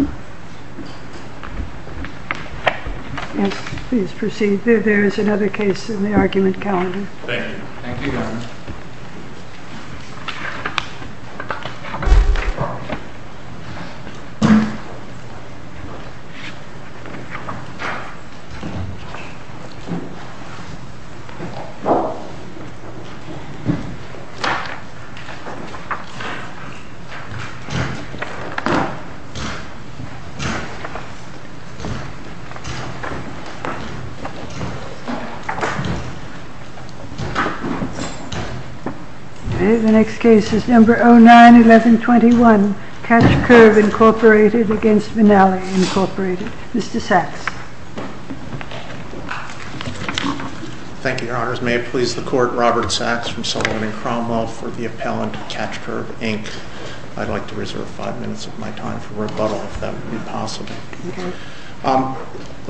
Yes, please proceed. There is another case in the argument calendar. Thank you. Thank you, Governor. The next case is number 09-1121, Catch Curve, Incorporated v. Venali, Incorporated. Mr. Sachs. Thank you, Your Honors. May it please the Court, Robert Sachs from Sullivan and Cromwell for the appellant, Catch Curve, Inc. I'd like to reserve five minutes of my time for rebuttal, if that would be possible.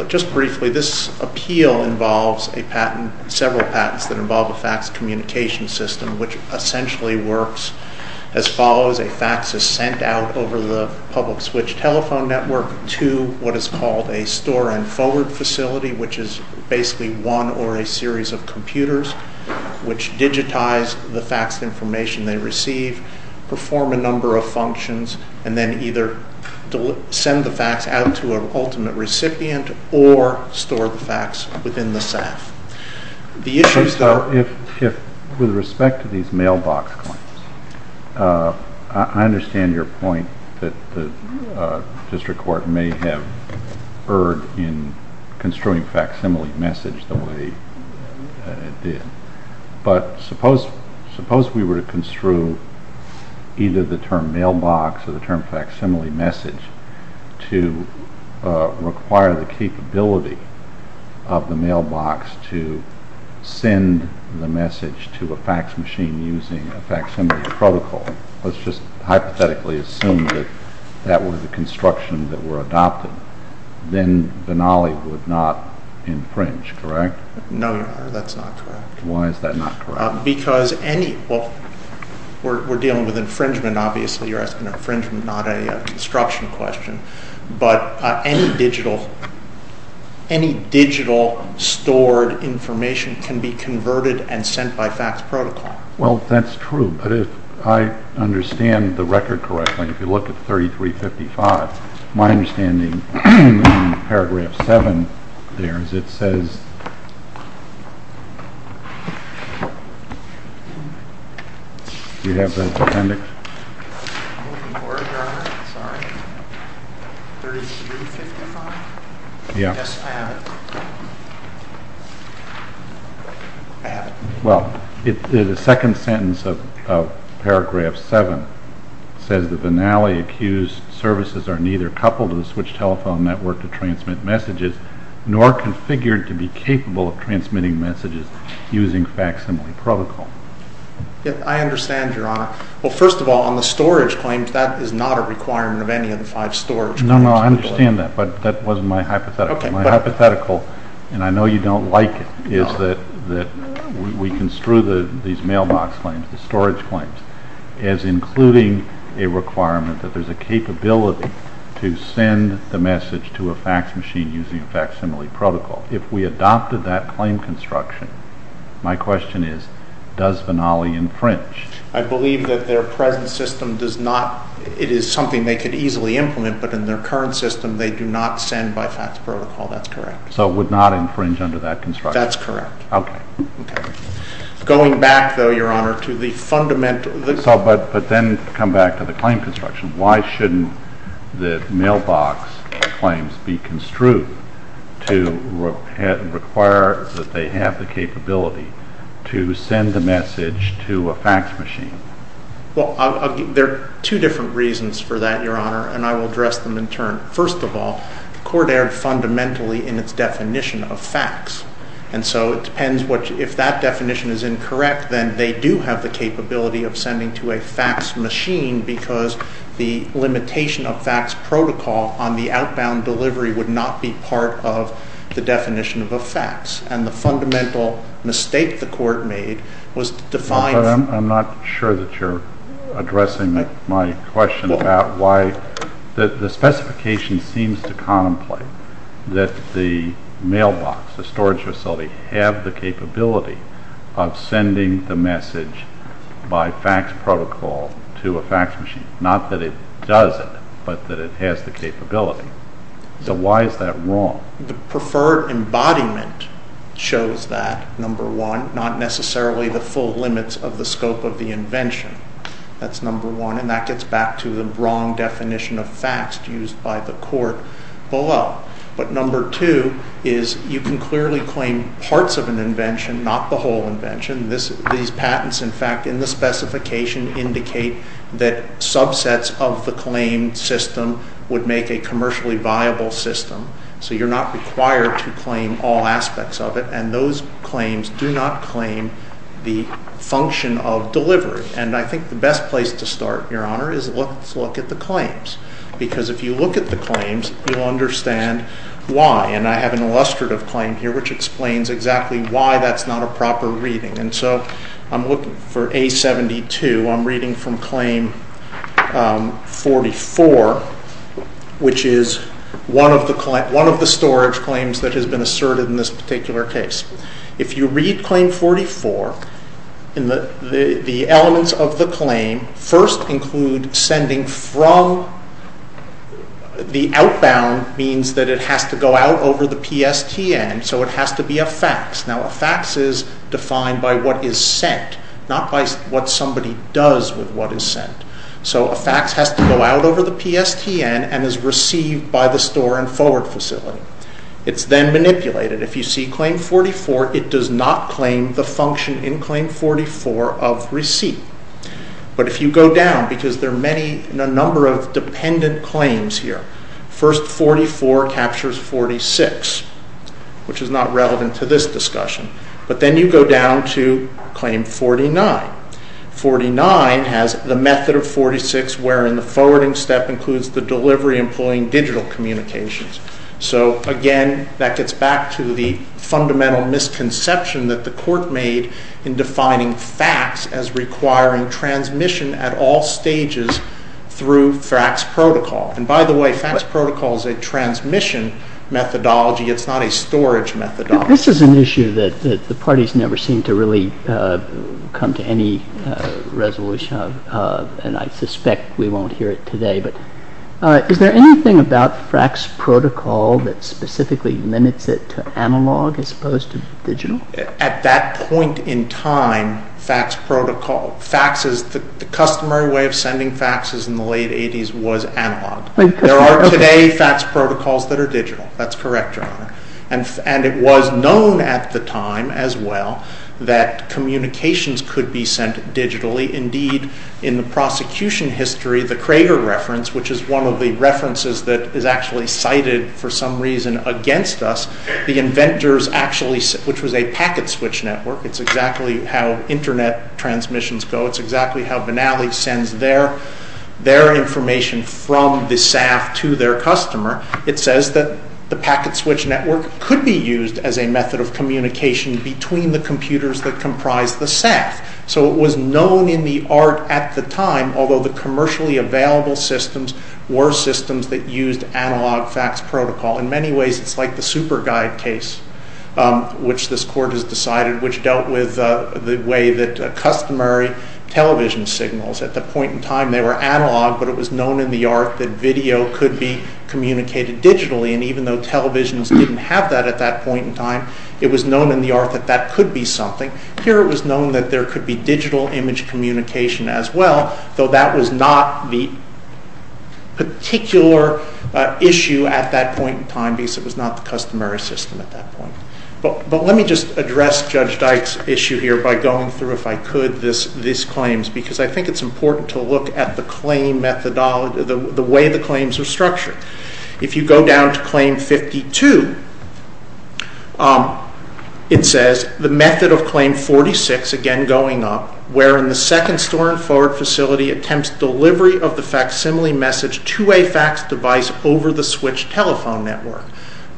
Just briefly, this appeal involves several patents that involve a fax communication system, which essentially works as follows. A fax is sent out over the public switch telephone network to what is called a store-and-forward facility, which is basically one or a series of computers which digitize the faxed information they receive, perform a number of functions, and then either send the fax out to an ultimate recipient or store the fax within the SAF. With respect to these mailbox claims, I understand your point that the District Court may have erred in construing facsimile message the way it did. But suppose we were to construe either the term mailbox or the term facsimile message to require the capability of the mailbox to send the message to a fax machine using a facsimile protocol. Let's just hypothetically assume that that were the construction that were adopted. Then Venali would not infringe, correct? No, Your Honor, that's not correct. Why is that not correct? Because any—well, we're dealing with infringement, obviously. You're asking infringement, not a construction question. But any digital stored information can be converted and sent by fax protocol. Well, that's true, but if I understand the record correctly, if you look at 3355, my understanding in paragraph 7 there is it says— Do you have the appendix? I'm looking for it, Your Honor. Sorry. 3355? Yes. I have it. I have it. Well, the second sentence of paragraph 7 says that the Venali-accused services are neither coupled to the switched telephone network to transmit messages nor configured to be capable of transmitting messages using facsimile protocol. I understand, Your Honor. Well, first of all, on the storage claims, that is not a requirement of any of the five storage claims. No, no, I understand that, but that wasn't my hypothetical. My hypothetical, and I know you don't like it, is that we construe these mailbox claims, the storage claims, as including a requirement that there's a capability to send the message to a fax machine using a facsimile protocol. If we adopted that claim construction, my question is, does Venali infringe? I believe that their present system does not—it is something they could easily implement, but in their current system, they do not send by fax protocol. That's correct. So it would not infringe under that construction? That's correct. Okay. Going back, though, Your Honor, to the fundamental— But then to come back to the claim construction, why shouldn't the mailbox claims be construed to require that they have the capability to send the message to a fax machine? Well, there are two different reasons for that, Your Honor, and I will address them in turn. First of all, the Court erred fundamentally in its definition of fax, and so it depends what—if that definition is incorrect, then they do have the capability of sending to a fax machine because the limitation of fax protocol on the outbound delivery would not be part of the definition of a fax, and the fundamental mistake the Court made was to define— I'm not sure that you're addressing my question about why— that the mailbox, the storage facility, have the capability of sending the message by fax protocol to a fax machine, not that it doesn't, but that it has the capability. So why is that wrong? The preferred embodiment shows that, number one, not necessarily the full limits of the scope of the invention. That's number one, and that gets back to the wrong definition of fax used by the Court below. But number two is you can clearly claim parts of an invention, not the whole invention. These patents, in fact, in the specification indicate that subsets of the claim system would make a commercially viable system, so you're not required to claim all aspects of it, and those claims do not claim the function of delivery. And I think the best place to start, Your Honor, is let's look at the claims, because if you look at the claims, you'll understand why, and I have an illustrative claim here which explains exactly why that's not a proper reading. And so I'm looking for A72. I'm reading from Claim 44, which is one of the storage claims that has been asserted in this particular case. If you read Claim 44, the elements of the claim first include sending from. The outbound means that it has to go out over the PSTN, so it has to be a fax. Now, a fax is defined by what is sent, not by what somebody does with what is sent. So a fax has to go out over the PSTN and is received by the store and forward facility. It's then manipulated. If you see Claim 44, it does not claim the function in Claim 44 of receipt. But if you go down, because there are a number of dependent claims here. First, 44 captures 46, which is not relevant to this discussion. But then you go down to Claim 49. 49 has the method of 46, wherein the forwarding step includes the delivery employing digital communications. So, again, that gets back to the fundamental misconception that the Court made in defining fax as requiring transmission at all stages through fax protocol. And, by the way, fax protocol is a transmission methodology. It's not a storage methodology. This is an issue that the parties never seem to really come to any resolution of, and I suspect we won't hear it today. But is there anything about fax protocol that specifically limits it to analog as opposed to digital? At that point in time, fax protocol, faxes, the customary way of sending faxes in the late 80s was analog. There are today fax protocols that are digital. That's correct, Your Honor. And it was known at the time as well that communications could be sent digitally. Indeed, in the prosecution history, the Crager reference, which is one of the references that is actually cited for some reason against us, the inventors actually, which was a packet switch network, it's exactly how Internet transmissions go. It's exactly how Vanalli sends their information from the SAF to their customer. It says that the packet switch network could be used as a method of communication between the computers that comprise the SAF. So it was known in the art at the time, although the commercially available systems were systems that used analog fax protocol. In many ways, it's like the SuperGuide case, which this Court has decided, which dealt with the way that customary television signals, at the point in time they were analog, but it was known in the art that video could be communicated digitally. And even though televisions didn't have that at that point in time, it was known in the art that that could be something. Here it was known that there could be digital image communication as well, though that was not the particular issue at that point in time, because it was not the customary system at that point. But let me just address Judge Dyke's issue here by going through, if I could, these claims, because I think it's important to look at the claim methodology, the way the claims are structured. If you go down to Claim 52, it says, The method of Claim 46, again going up, wherein the second store and forward facility attempts delivery of the facsimile message to a fax device over the switched telephone network,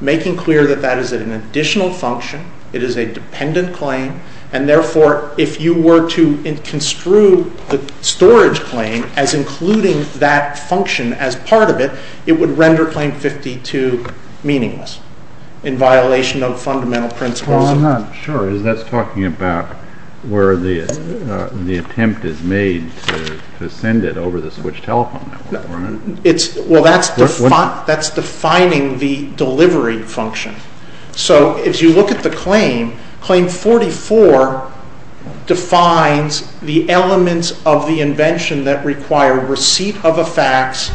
making clear that that is an additional function, it is a dependent claim, and therefore if you were to construe the storage claim as including that function as part of it, it would render Claim 52 meaningless, in violation of fundamental principles. Well, I'm not sure. That's talking about where the attempt is made to send it over the switched telephone network. Well, that's defining the delivery function. So if you look at the claim, Claim 44 defines the elements of the invention that require receipt of a fax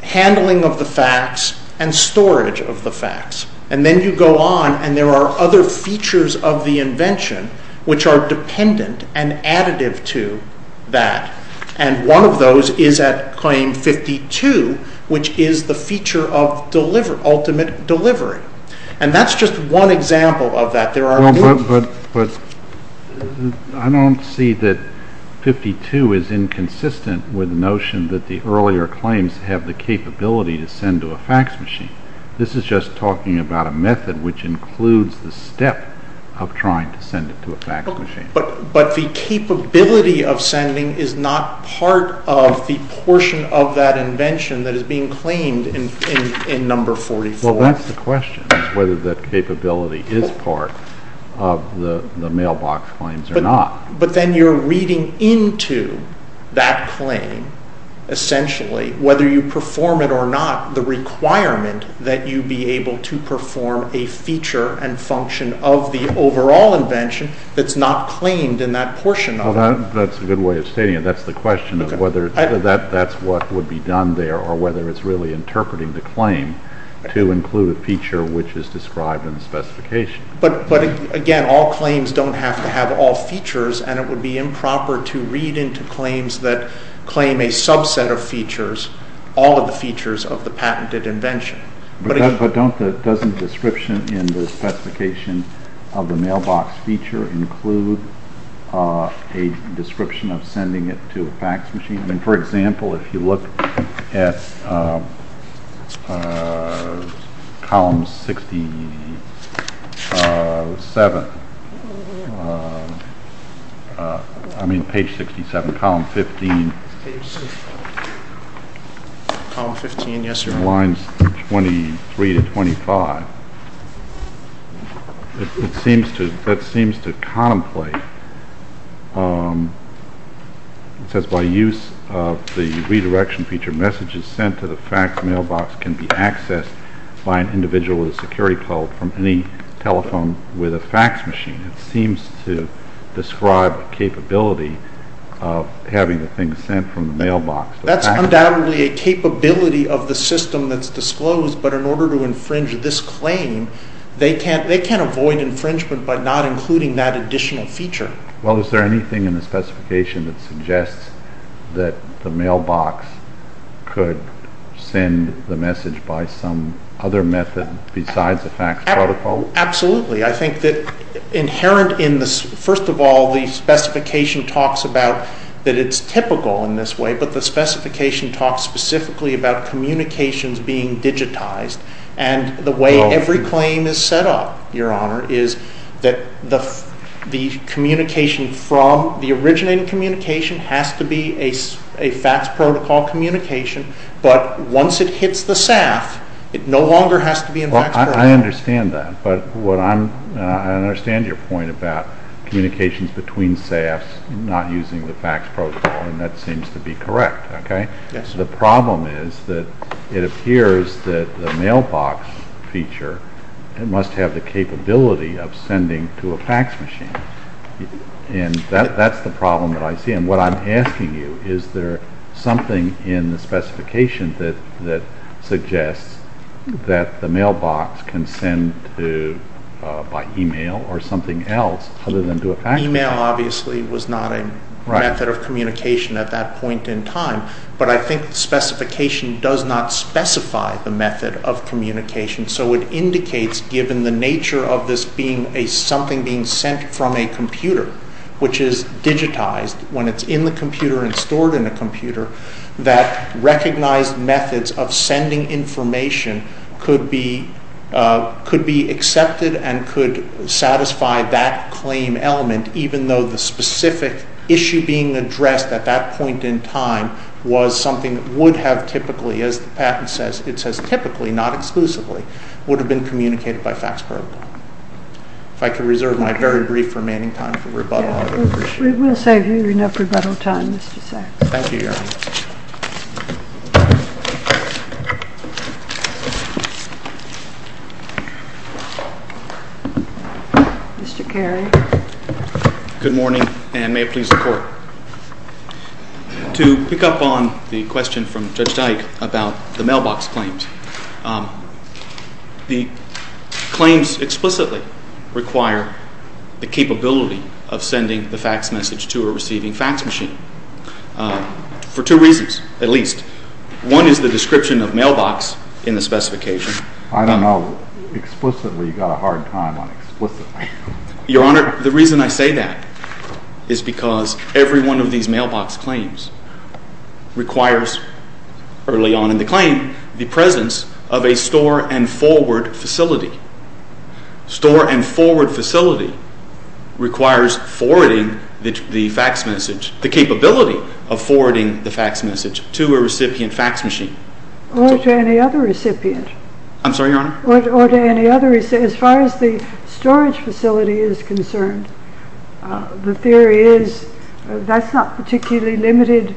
handling of the fax, and storage of the fax. And then you go on and there are other features of the invention which are dependent and additive to that. And one of those is at Claim 52, which is the feature of ultimate delivery. And that's just one example of that. There are many. But I don't see that 52 is inconsistent with the notion that the earlier claims have the capability to send to a fax machine. This is just talking about a method which includes the step of trying to send it to a fax machine. But the capability of sending is not part of the portion of that invention that is being claimed in Number 44. Well, that's the question, is whether that capability is part of the mailbox claims or not. But then you're reading into that claim, essentially, whether you perform it or not, the requirement that you be able to perform a feature and function of the overall invention that's not claimed in that portion of it. That's a good way of stating it. That's the question of whether that's what would be done there, or whether it's really interpreting the claim to include a feature which is described in the specification. But again, all claims don't have to have all features, and it would be improper to read into claims that claim a subset of features, all of the features of the patented invention. But doesn't the description in the specification of the mailbox feature include a description of sending it to a fax machine? For example, if you look at column 67, I mean page 67, column 15, lines 23 to 25, that seems to contemplate, it says by use of the redirection feature, messages sent to the fax mailbox can be accessed by an individual with a security code from any telephone with a fax machine. It seems to describe a capability of having the thing sent from the mailbox. That's undoubtedly a capability of the system that's disclosed, but in order to infringe this claim, they can't avoid infringement by not including that additional feature. Well, is there anything in the specification that suggests that the mailbox could send the message by some other method besides a fax protocol? Absolutely. I think that, first of all, the specification talks about that it's typical in this way, but the specification talks specifically about communications being digitized, and the way every claim is set up, Your Honor, is that the communication from the originating communication has to be a fax protocol communication, but once it hits the SAF, it no longer has to be in fax protocol. I understand that, but I understand your point about communications between SAFs not using the fax protocol, and that seems to be correct. The problem is that it appears that the mailbox feature must have the capability of sending to a fax machine, and that's the problem that I see. What I'm asking you, is there something in the specification that suggests that the mailbox can send by email or something else other than to a fax machine? Email, obviously, was not a method of communication at that point in time, but I think the specification does not specify the method of communication, so it indicates, given the nature of this being something being sent from a computer, which is digitized, when it's in the computer and stored in a computer, that recognized methods of sending information could be accepted and could satisfy that claim element, even though the specific issue being addressed at that point in time was something that would have typically, as the patent says, it says typically, not exclusively, would have been communicated by fax protocol. If I could reserve my very brief remaining time for rebuttal, I would appreciate it. We will save you enough rebuttal time, Mr. Sachs. Thank you, Your Honor. Mr. Carey. Good morning, and may it please the Court. To pick up on the question from Judge Dyke about the mailbox claims, the claims explicitly require the capability of sending the fax message to a receiving fax machine, for two reasons, at least. One is the description of mailbox in the specification. I don't know. Explicitly, you've got a hard time on explicitly. Your Honor, the reason I say that is because every one of these mailbox claims requires, early on in the claim, the presence of a store and forward facility. Store and forward facility requires forwarding the fax message, the capability of forwarding the fax message to a recipient fax machine. Or to any other recipient. I'm sorry, Your Honor? Or to any other. As far as the storage facility is concerned, the theory is that's not particularly limited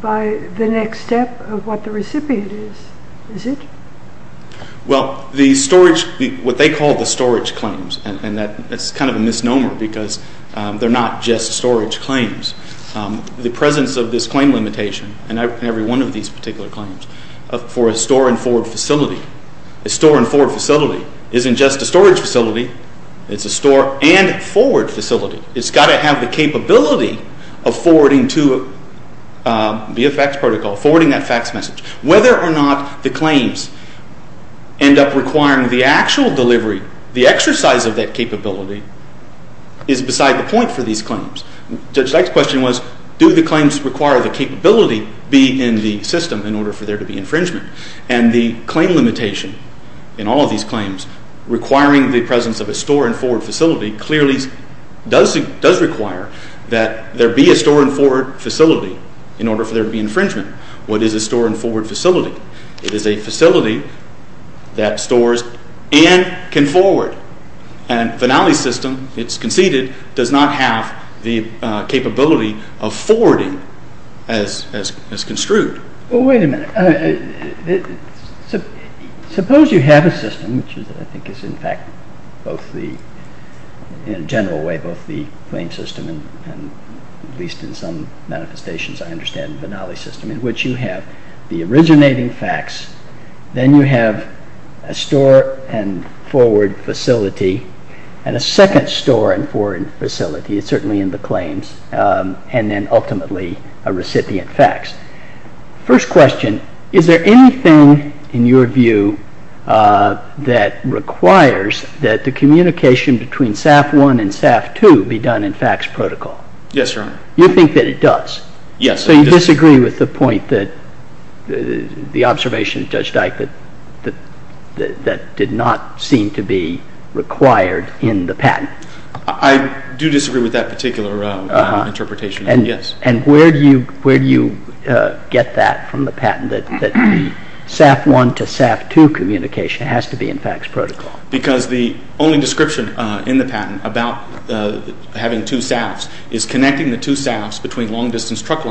by the next step of what the recipient is, is it? Well, the storage, what they call the storage claims, and that's kind of a misnomer because they're not just storage claims. The presence of this claim limitation, in every one of these particular claims, for a store and forward facility. A store and forward facility isn't just a storage facility. It's a store and forward facility. It's got to have the capability of forwarding to a VFX protocol, forwarding that fax message. Whether or not the claims end up requiring the actual delivery, the exercise of that capability, is beside the point for these claims. Judge Dyke's question was, do the claims require the capability be in the system in order for there to be infringement? And the claim limitation in all of these claims requiring the presence of a store and forward facility clearly does require that there be a store and forward facility in order for there to be infringement. What is a store and forward facility? It is a facility that stores and can forward. And Vinali's system, it's conceded, does not have the capability of forwarding as construed. Well, wait a minute. Suppose you have a system, which I think is in fact both the, in a general way, both the claim system and at least in some manifestations I understand Vinali's system, in which you have the originating fax, then you have a store and forward facility and a second store and forward facility, it's certainly in the claims, and then ultimately a recipient fax. First question, is there anything in your view that requires that the communication between SAF I and SAF II be done in fax protocol? Yes, Your Honor. You think that it does? Yes. So you disagree with the point that, the observation of Judge Dyke, that did not seem to be required in the patent? I do disagree with that particular interpretation, yes. And where do you get that from the patent, that SAF I to SAF II communication has to be in fax protocol? Because the only description in the patent about having two SAFs is connecting the two SAFs between long-distance trunk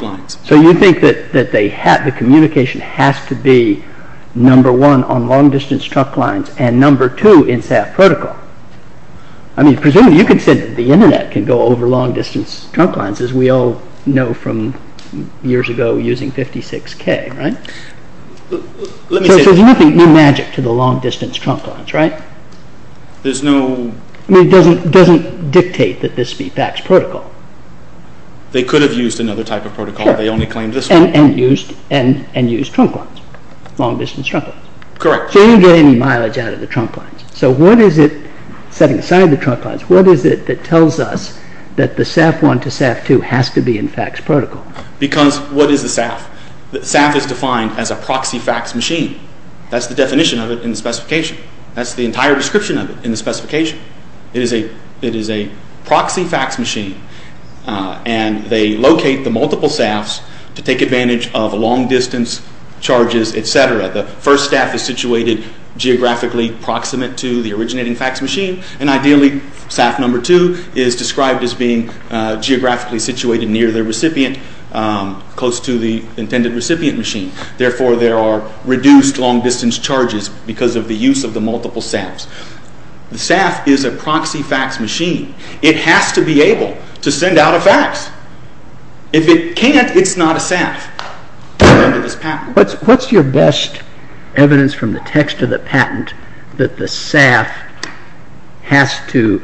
lines. So you think that the communication has to be number one on long-distance trunk lines and number two in SAF protocol? I mean, presumably you could say that the internet can go over long-distance trunk lines as we all know from years ago using 56k, right? So there's nothing new magic to the long-distance trunk lines, right? There's no... I mean, it doesn't dictate that this be fax protocol. They could have used another type of protocol. Sure. They only claimed this one. And used trunk lines, long-distance trunk lines. Correct. So you didn't get any mileage out of the trunk lines. So what is it, setting aside the trunk lines, what is it that tells us that the SAF I to SAF II has to be in fax protocol? Because what is the SAF? The SAF is defined as a proxy fax machine. That's the definition of it in the specification. That's the entire description of it in the specification. It is a proxy fax machine. And they locate the multiple SAFs to take advantage of long-distance charges, etc. The first SAF is situated geographically proximate to the originating fax machine. And ideally, SAF II is described as being geographically situated near the recipient, close to the intended recipient machine. Therefore, there are reduced long-distance charges because of the use of the multiple SAFs. The SAF is a proxy fax machine. It has to be able to send out a fax. If it can't, it's not a SAF. What's your best evidence from the text of the patent that the SAF has to,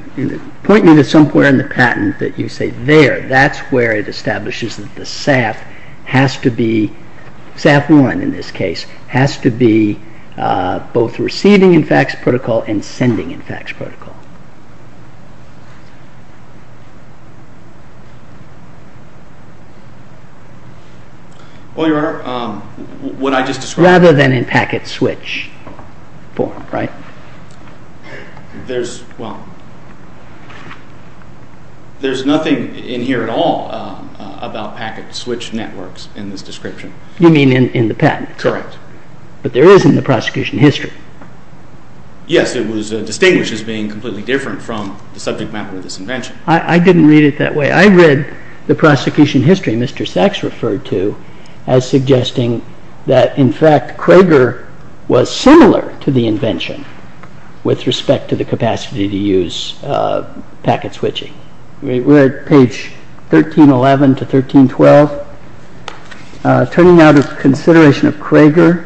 point me to somewhere in the patent that you say there. That's where it establishes that the SAF has to be, SAF I in this case, has to be both receiving in fax protocol and sending in fax protocol. Well, Your Honor, what I just described. Rather than in packet switch form, right? There's, well, there's nothing in here at all about packet switch networks in this description. You mean in the patent? Correct. But there is in the prosecution history. Yes, it was distinguished as being completely different from the subject matter of this invention. I didn't read it that way. I read the prosecution history Mr. Sachs referred to as suggesting that, in fact, Cragar was similar to the invention with respect to the capacity to use packet switching. We're at page 1311 to 1312. Turning out of consideration of Cragar,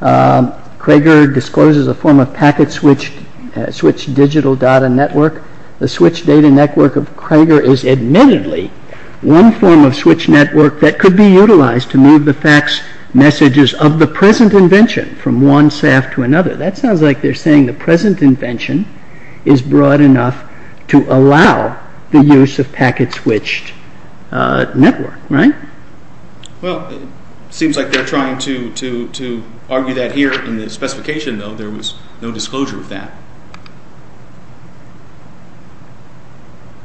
Cragar discloses a form of packet switch digital data network. The switch data network of Cragar is admittedly one form of switch network that could be utilized to move the fax messages of the present invention from one SAF to another. That sounds like they're saying the present invention is broad enough to allow the use of packet switched network, right? Well, it seems like they're trying to argue that here in the specification, though. There was no disclosure of that.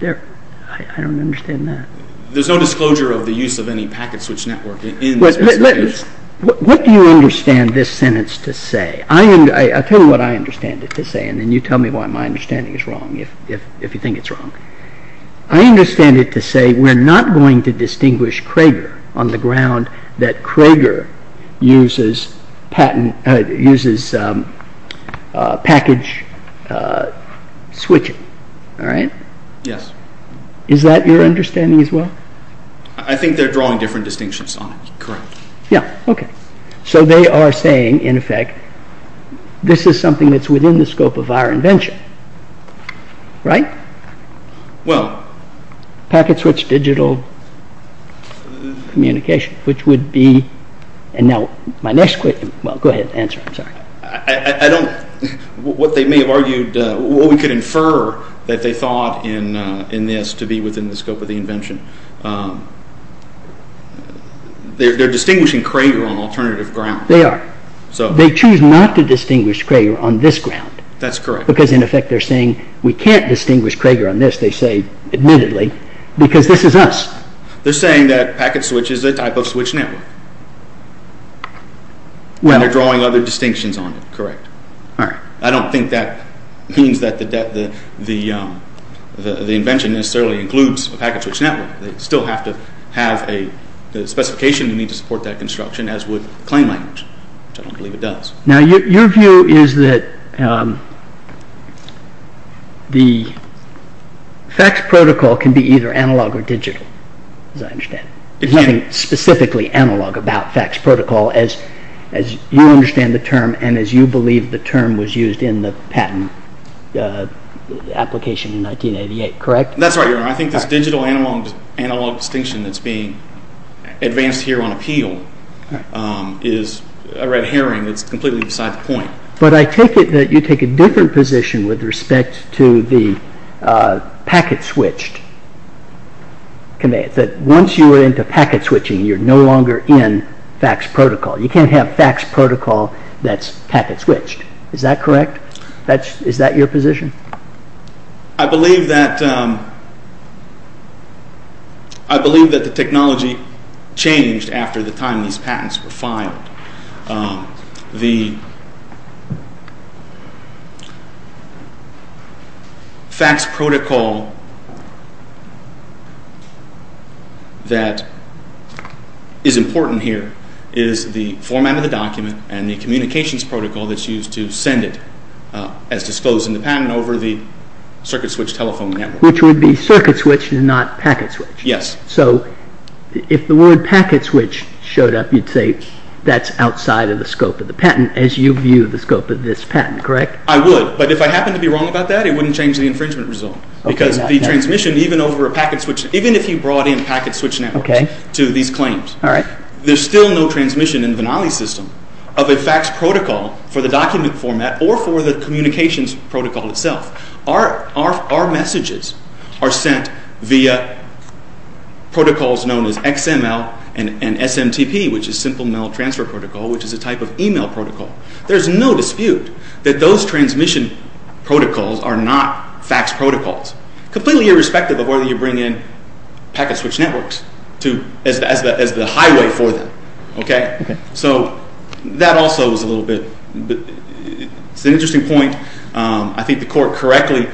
I don't understand that. There's no disclosure of the use of any packet switch network in the specification. What do you understand this sentence to say? I'll tell you what I understand it to say, and then you tell me why my understanding is wrong, if you think it's wrong. I understand it to say we're not going to distinguish Cragar on the ground that Cragar uses package switching. All right? Yes. Is that your understanding as well? I think they're drawing different distinctions on it. Correct. Yeah, okay. So they are saying, in effect, this is something that's within the scope of our invention. Right? Well... Packet switch digital communication, which would be... And now my next question... Well, go ahead. Answer. I'm sorry. I don't... What they may have argued... What we could infer that they thought in this to be within the scope of the invention. They're distinguishing Cragar on alternative ground. They are. They choose not to distinguish Cragar on this ground. That's correct. Because, in effect, they're saying we can't distinguish Cragar on this, they say, admittedly, because this is us. They're saying that packet switch is a type of switch network. Well... And they're drawing other distinctions on it. Correct. All right. I don't think that means that the invention necessarily includes a packet switch network. They still have to have a specification to need to support that construction, as would claim language, which I don't believe it does. Now, your view is that the FACTS protocol can be either analog or digital, as I understand it. There's nothing specifically analog about FACTS protocol as you understand the term and as you believe the term was used in the patent application in 1988, correct? That's right, Your Honor. I think this digital analog distinction that's being advanced here on appeal is a red herring. It's completely beside the point. But I take it that you take a different position with respect to the packet switched. Once you are into packet switching, you're no longer in FACTS protocol. You can't have FACTS protocol that's packet switched. Is that correct? Is that your position? I believe that the technology changed after the time these patents were filed. The FACTS protocol that is important here is the format of the document and the communications protocol that's used to send it as disclosed in the patent over the circuit switched telephone network. Which would be circuit switched and not packet switched. Yes. So if the word packet switched showed up, you'd say that's outside of the scope of the patent as you view the scope of this patent, correct? I would. But if I happen to be wrong about that, it wouldn't change the infringement result. Because the transmission, even if you brought in packet switched networks to these claims, there's still no transmission in the Venali system of a FACTS protocol for the document format or for the communications protocol itself. Our messages are sent via protocols known as XML and SMTP, which is simple mail transfer protocol, which is a type of email protocol. There's no dispute that those transmission protocols are not FACTS protocols. Completely irrespective of whether you bring in packet switched networks as the highway for them. So that also is a little bit, it's an interesting point. I think the court correctly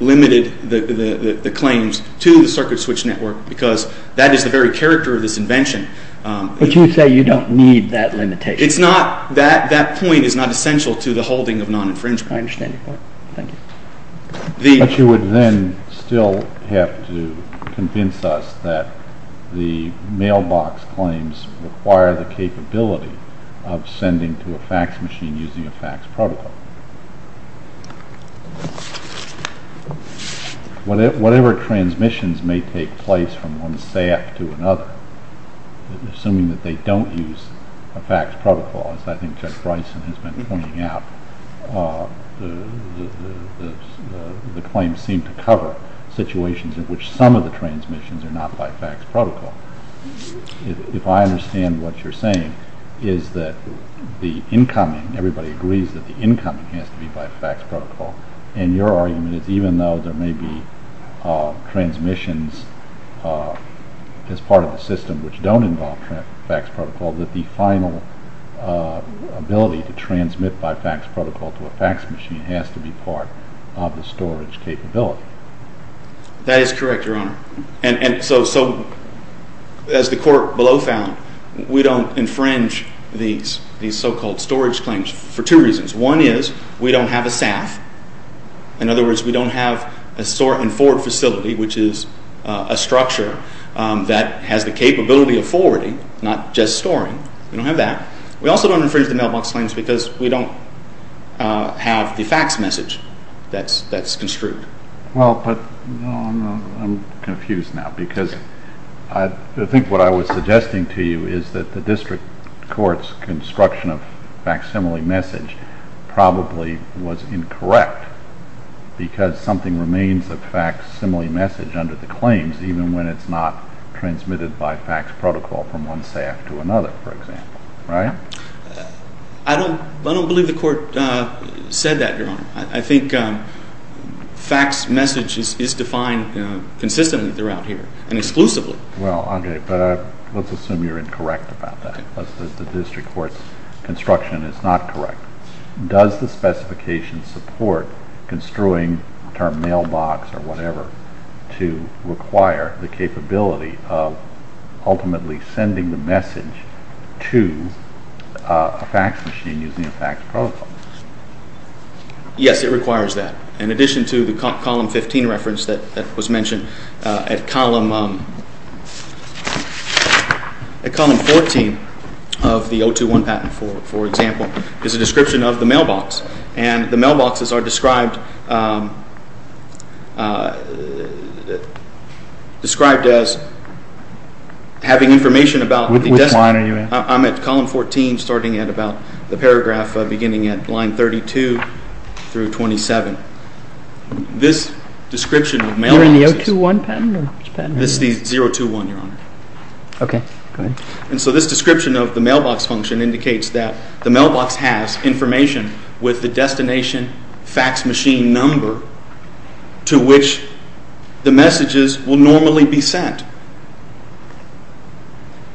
limited the claims to the circuit switched network because that is the very character of this invention. But you say you don't need that limitation. It's not, that point is not essential to the holding of non-infringement. I understand your point. Thank you. But you would then still have to convince us that the mailbox claims require the capability of sending to a FACTS machine using a FACTS protocol. Whatever transmissions may take place from one staff to another, assuming that they don't use a FACTS protocol, as I think Judge Bryson has been pointing out, the claims seem to cover situations in which some of the transmissions are not by FACTS protocol. If I understand what you're saying, is that the incoming, everybody agrees that the incoming has to be by FACTS protocol. And your argument is even though there may be transmissions as part of the system which don't involve FACTS protocol, that the final ability to transmit by FACTS protocol to a FACTS machine has to be part of the storage capability. That is correct, Your Honor. And so, as the court below found, we don't infringe these so-called storage claims for two reasons. One is we don't have a SAF. In other words, we don't have a store and forward facility, which is a structure that has the capability of forwarding, not just storing. We don't have that. We also don't infringe the mailbox claims because we don't have the FACTS message that's construed. Well, but I'm confused now because I think what I was suggesting to you is that the district court's construction of FACTS simile message probably was incorrect because something remains of FACTS simile message under the claims, even when it's not transmitted by FACTS protocol from one SAF to another, for example. Right? I don't believe the court said that, Your Honor. I think FACTS message is defined consistently throughout here and exclusively. Well, Andre, let's assume you're incorrect about that, that the district court's construction is not correct. Does the specification support construing the term mailbox or whatever to require the capability of ultimately sending the message to a FACTS machine using a FACTS protocol? Yes, it requires that. In addition to the Column 15 reference that was mentioned, at Column 14 of the 021 patent, for example, is a description of the mailbox. And the mailboxes are described as having information about the destination. Which line are you in? I'm at Column 14, starting at about the paragraph beginning at line 32 through 27. This description of mailboxes. You're in the 021 patent or which patent are you in? This is the 021, Your Honor. Okay. And so this description of the mailbox function indicates that the mailbox has information with the destination FACTS machine number to which the messages will normally be sent.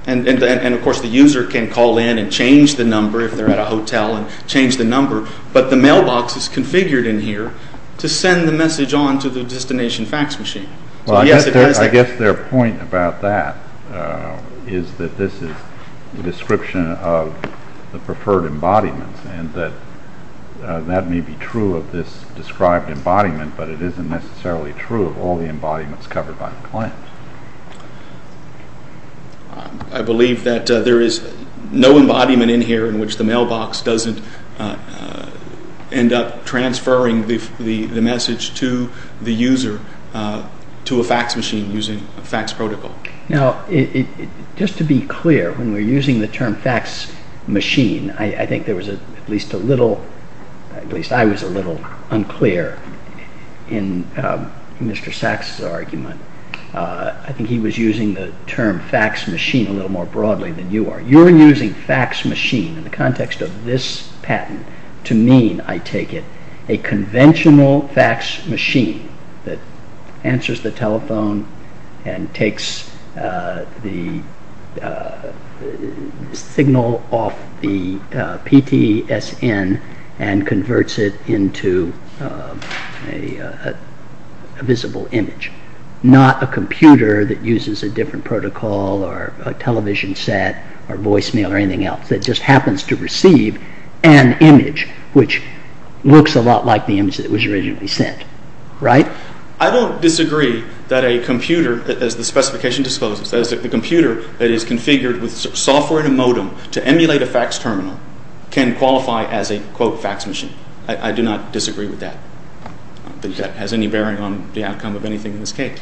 And, of course, the user can call in and change the number if they're at a hotel and change the number. But the mailbox is configured in here to send the message on to the destination FACTS machine. I guess their point about that is that this is the description of the preferred embodiment and that that may be true of this described embodiment, but it isn't necessarily true of all the embodiments covered by the claims. I believe that there is no embodiment in here in which the mailbox doesn't end up transferring the message to the user to a FACTS machine using a FACTS protocol. Now, just to be clear, when we're using the term FACTS machine, I think there was at least a little, at least I was a little unclear in Mr. Sachs' argument. I think he was using the term FACTS machine a little more broadly than you are. You're using FACTS machine in the context of this patent to mean, I take it, a conventional FACTS machine that answers the telephone and takes the signal off the PTSN and converts it into a visible image, not a computer that uses a different protocol or a television set or voicemail or anything else that just happens to receive an image which looks a lot like the image that was originally sent, right? I don't disagree that a computer, as the specification discloses, that is the computer that is configured with software in a modem to emulate a FACTS terminal can qualify as a, quote, FACTS machine. I do not disagree with that. I don't think that has any bearing on the outcome of anything in this case.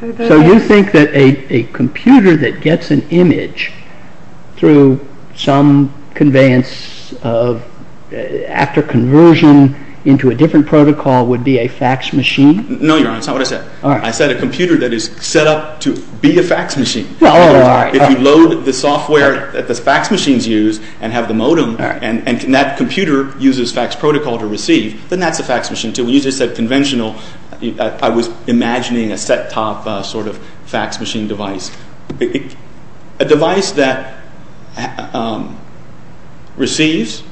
So you think that a computer that gets an image through some conveyance of, after conversion, into a different protocol would be a FACTS machine? No, Your Honor, that's not what I said. I said a computer that is set up to be a FACTS machine. If you load the software that the FACTS machines use and have the modem and that computer uses FACTS protocol to receive, then that's a FACTS machine too. When you just said conventional, I was imagining a set-top sort of FACTS machine device. A device that receives,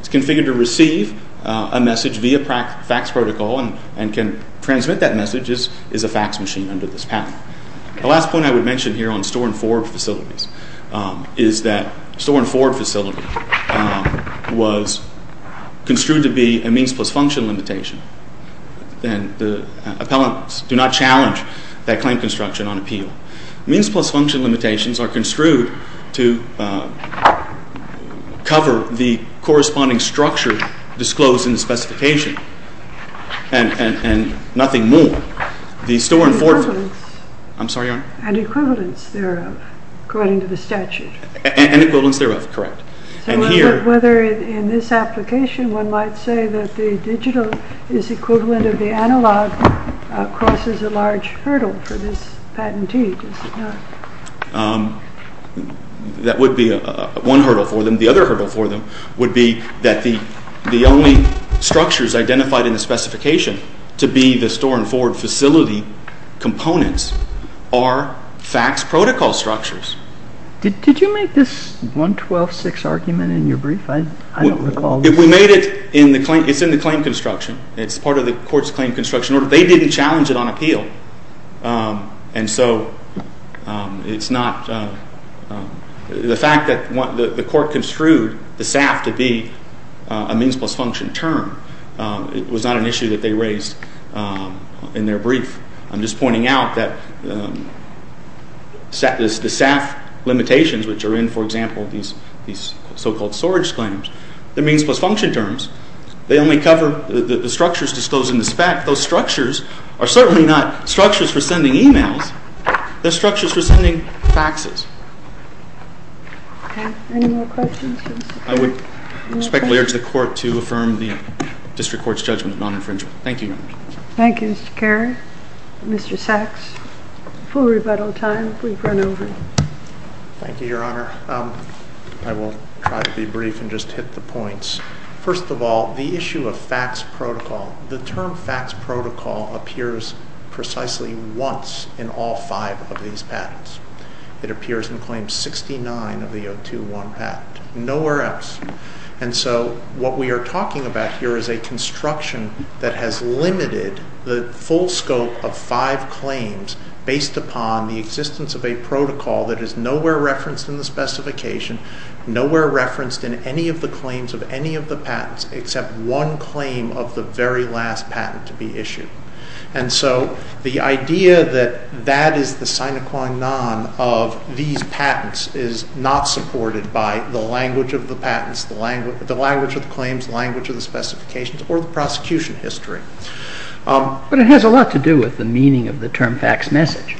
is configured to receive a message via FACTS protocol and can transmit that message is a FACTS machine under this patent. The last point I would mention here on store-and-forward facilities is that store-and-forward facility was construed to be a means-plus-function limitation. And the appellants do not challenge that claim construction on appeal. Means-plus-function limitations are construed to cover the corresponding structure disclosed in the specification and nothing more. And equivalence thereof, according to the statute. And equivalence thereof, correct. So whether in this application one might say that the digital is equivalent of the analog crosses a large hurdle for this patentee, does it not? That would be one hurdle for them. The other hurdle for them would be that the only structures identified in the specification to be the store-and-forward facility components are FACTS protocol structures. Did you make this 112.6 argument in your brief? I don't recall. We made it in the claim construction. It's part of the court's claim construction order. They didn't challenge it on appeal. And so the fact that the court construed the SAF to be a means-plus-function term was not an issue that they raised in their brief. I'm just pointing out that the SAF limitations, which are in, for example, these so-called storage claims, the means-plus-function terms, they only cover the structures disclosed in this fact. Those structures are certainly not structures for sending e-mails. They're structures for sending faxes. Okay. Any more questions? I would respectfully urge the court to affirm the district court's judgment of non-infringement. Thank you, Your Honor. Thank you, Mr. Carey. Mr. Sachs, full rebuttal time. We've run over. Thank you, Your Honor. I will try to be brief and just hit the points. First of all, the issue of fax protocol. The term fax protocol appears precisely once in all five of these patents. It appears in Claim 69 of the 021 patent. Nowhere else. And so what we are talking about here is a construction that has limited the full scope of five claims based upon the existence of a protocol that is nowhere referenced in the specification, nowhere referenced in any of the claims of any of the patents except one claim of the very last patent to be issued. And so the idea that that is the sine qua non of these patents is not supported by the language of the patents, the language of the claims, the language of the specifications, or the prosecution history. But it has a lot to do with the meaning of the term fax message.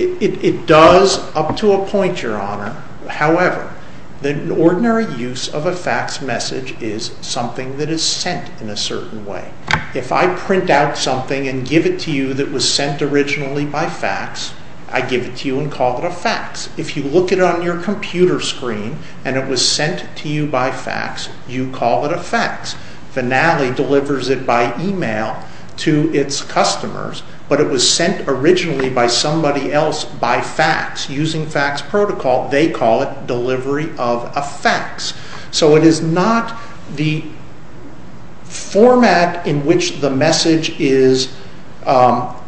However, the ordinary use of a fax message is something that is sent in a certain way. If I print out something and give it to you that was sent originally by fax, I give it to you and call it a fax. If you look at it on your computer screen and it was sent to you by fax, you call it a fax. Finale delivers it by email to its customers, but it was sent originally by somebody else by fax. Using fax protocol, they call it delivery of a fax. So it is not the format in which the message is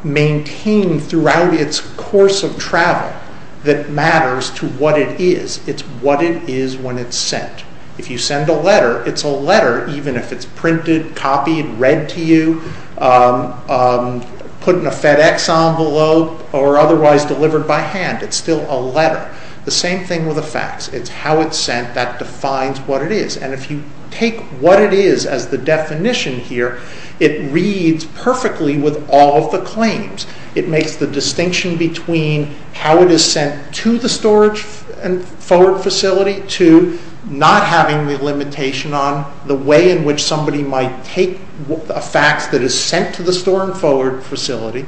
maintained throughout its course of travel that matters to what it is. It's what it is when it's sent. If you send a letter, it's a letter even if it's printed, copied, read to you, put in a FedEx envelope, or otherwise delivered by hand, it's still a letter. The same thing with a fax. It's how it's sent that defines what it is. If you take what it is as the definition here, it reads perfectly with all of the claims. It makes the distinction between how it is sent to the storage and forward facility to not having the limitation on the way in which somebody might take a fax that is sent to the store and forward facility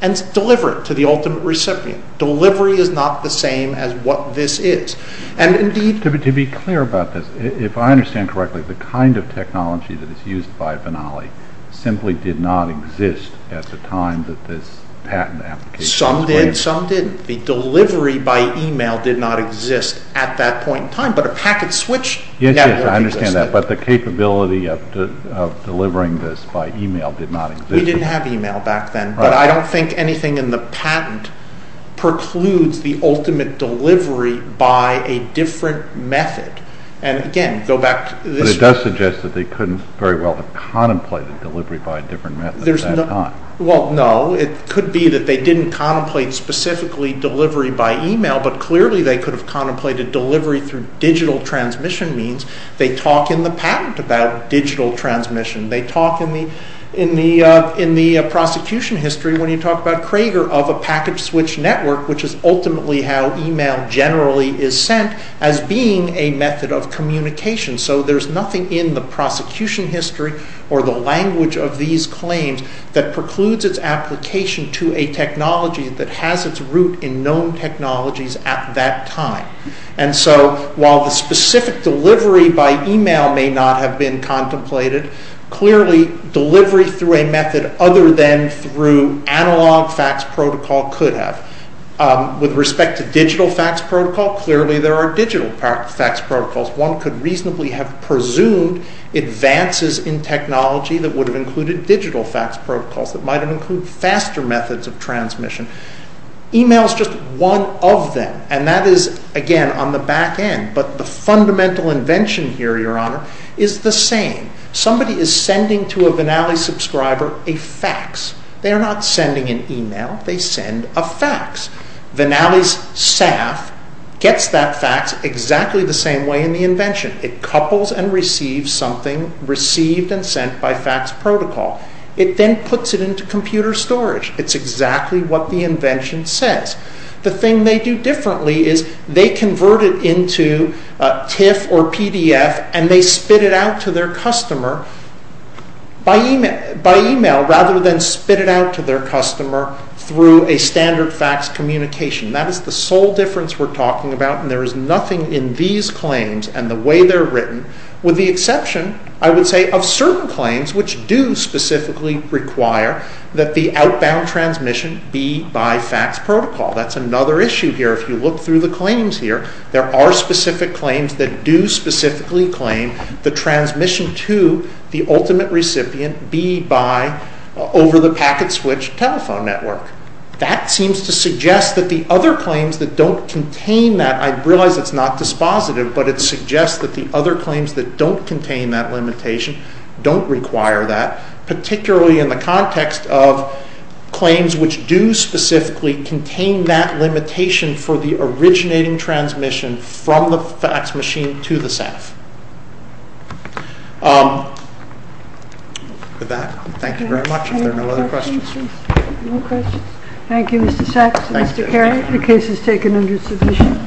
and deliver it to the ultimate recipient. Delivery is not the same as what this is. To be clear about this, if I understand correctly, the kind of technology that is used by Finale simply did not exist at the time that this patent application was created. Some did, some didn't. The delivery by email did not exist at that point in time, but a packet switch network existed. But the capability of delivering this by email did not exist. We didn't have email back then, but I don't think anything in the patent precludes the ultimate delivery by a different method. And again, go back to this... But it does suggest that they couldn't very well have contemplated delivery by a different method at that time. Well, no. It could be that they didn't contemplate specifically delivery by email, but clearly they could have contemplated delivery through digital transmission means. They talk in the patent about digital transmission. They talk in the prosecution history, when you talk about Crager, of a packet switch network, which is ultimately how email generally is sent, as being a method of communication. So there's nothing in the prosecution history or the language of these claims that precludes its application to a technology that has its root in known technologies at that time. And so, while the specific delivery by email may not have been contemplated, clearly delivery through a method other than through analog fax protocol could have. With respect to digital fax protocol, clearly there are digital fax protocols. One could reasonably have presumed advances in technology that would have included digital fax protocols that might have included faster methods of transmission. Email is just one of them, and that is, again, on the back end. But the fundamental invention here, Your Honor, is the same. Somebody is sending to a Vinali subscriber a fax. They are not sending an email. They send a fax. Vinali's staff gets that fax exactly the same way in the invention. It couples and receives something received and sent by fax protocol. It then puts it into computer storage. It's exactly what the invention says. The thing they do differently is they convert it into TIFF or PDF and they spit it out to their customer by email, rather than spit it out to their customer through a standard fax communication. That is the sole difference we're talking about, With the exception, I would say, of certain claims which do specifically require that the outbound transmission be by fax protocol. That's another issue here. If you look through the claims here, there are specific claims that do specifically claim the transmission to the ultimate recipient be by over-the-packet-switch telephone network. That seems to suggest that the other claims that don't contain that, I realize it's not dispositive, but it suggests that the other claims that don't contain that limitation don't require that, particularly in the context of claims which do specifically contain that limitation for the originating transmission from the fax machine to the staff. With that, thank you very much. Are there no other questions? Thank you, Mr. Sachs. Mr. Kerry, the case is taken under submission.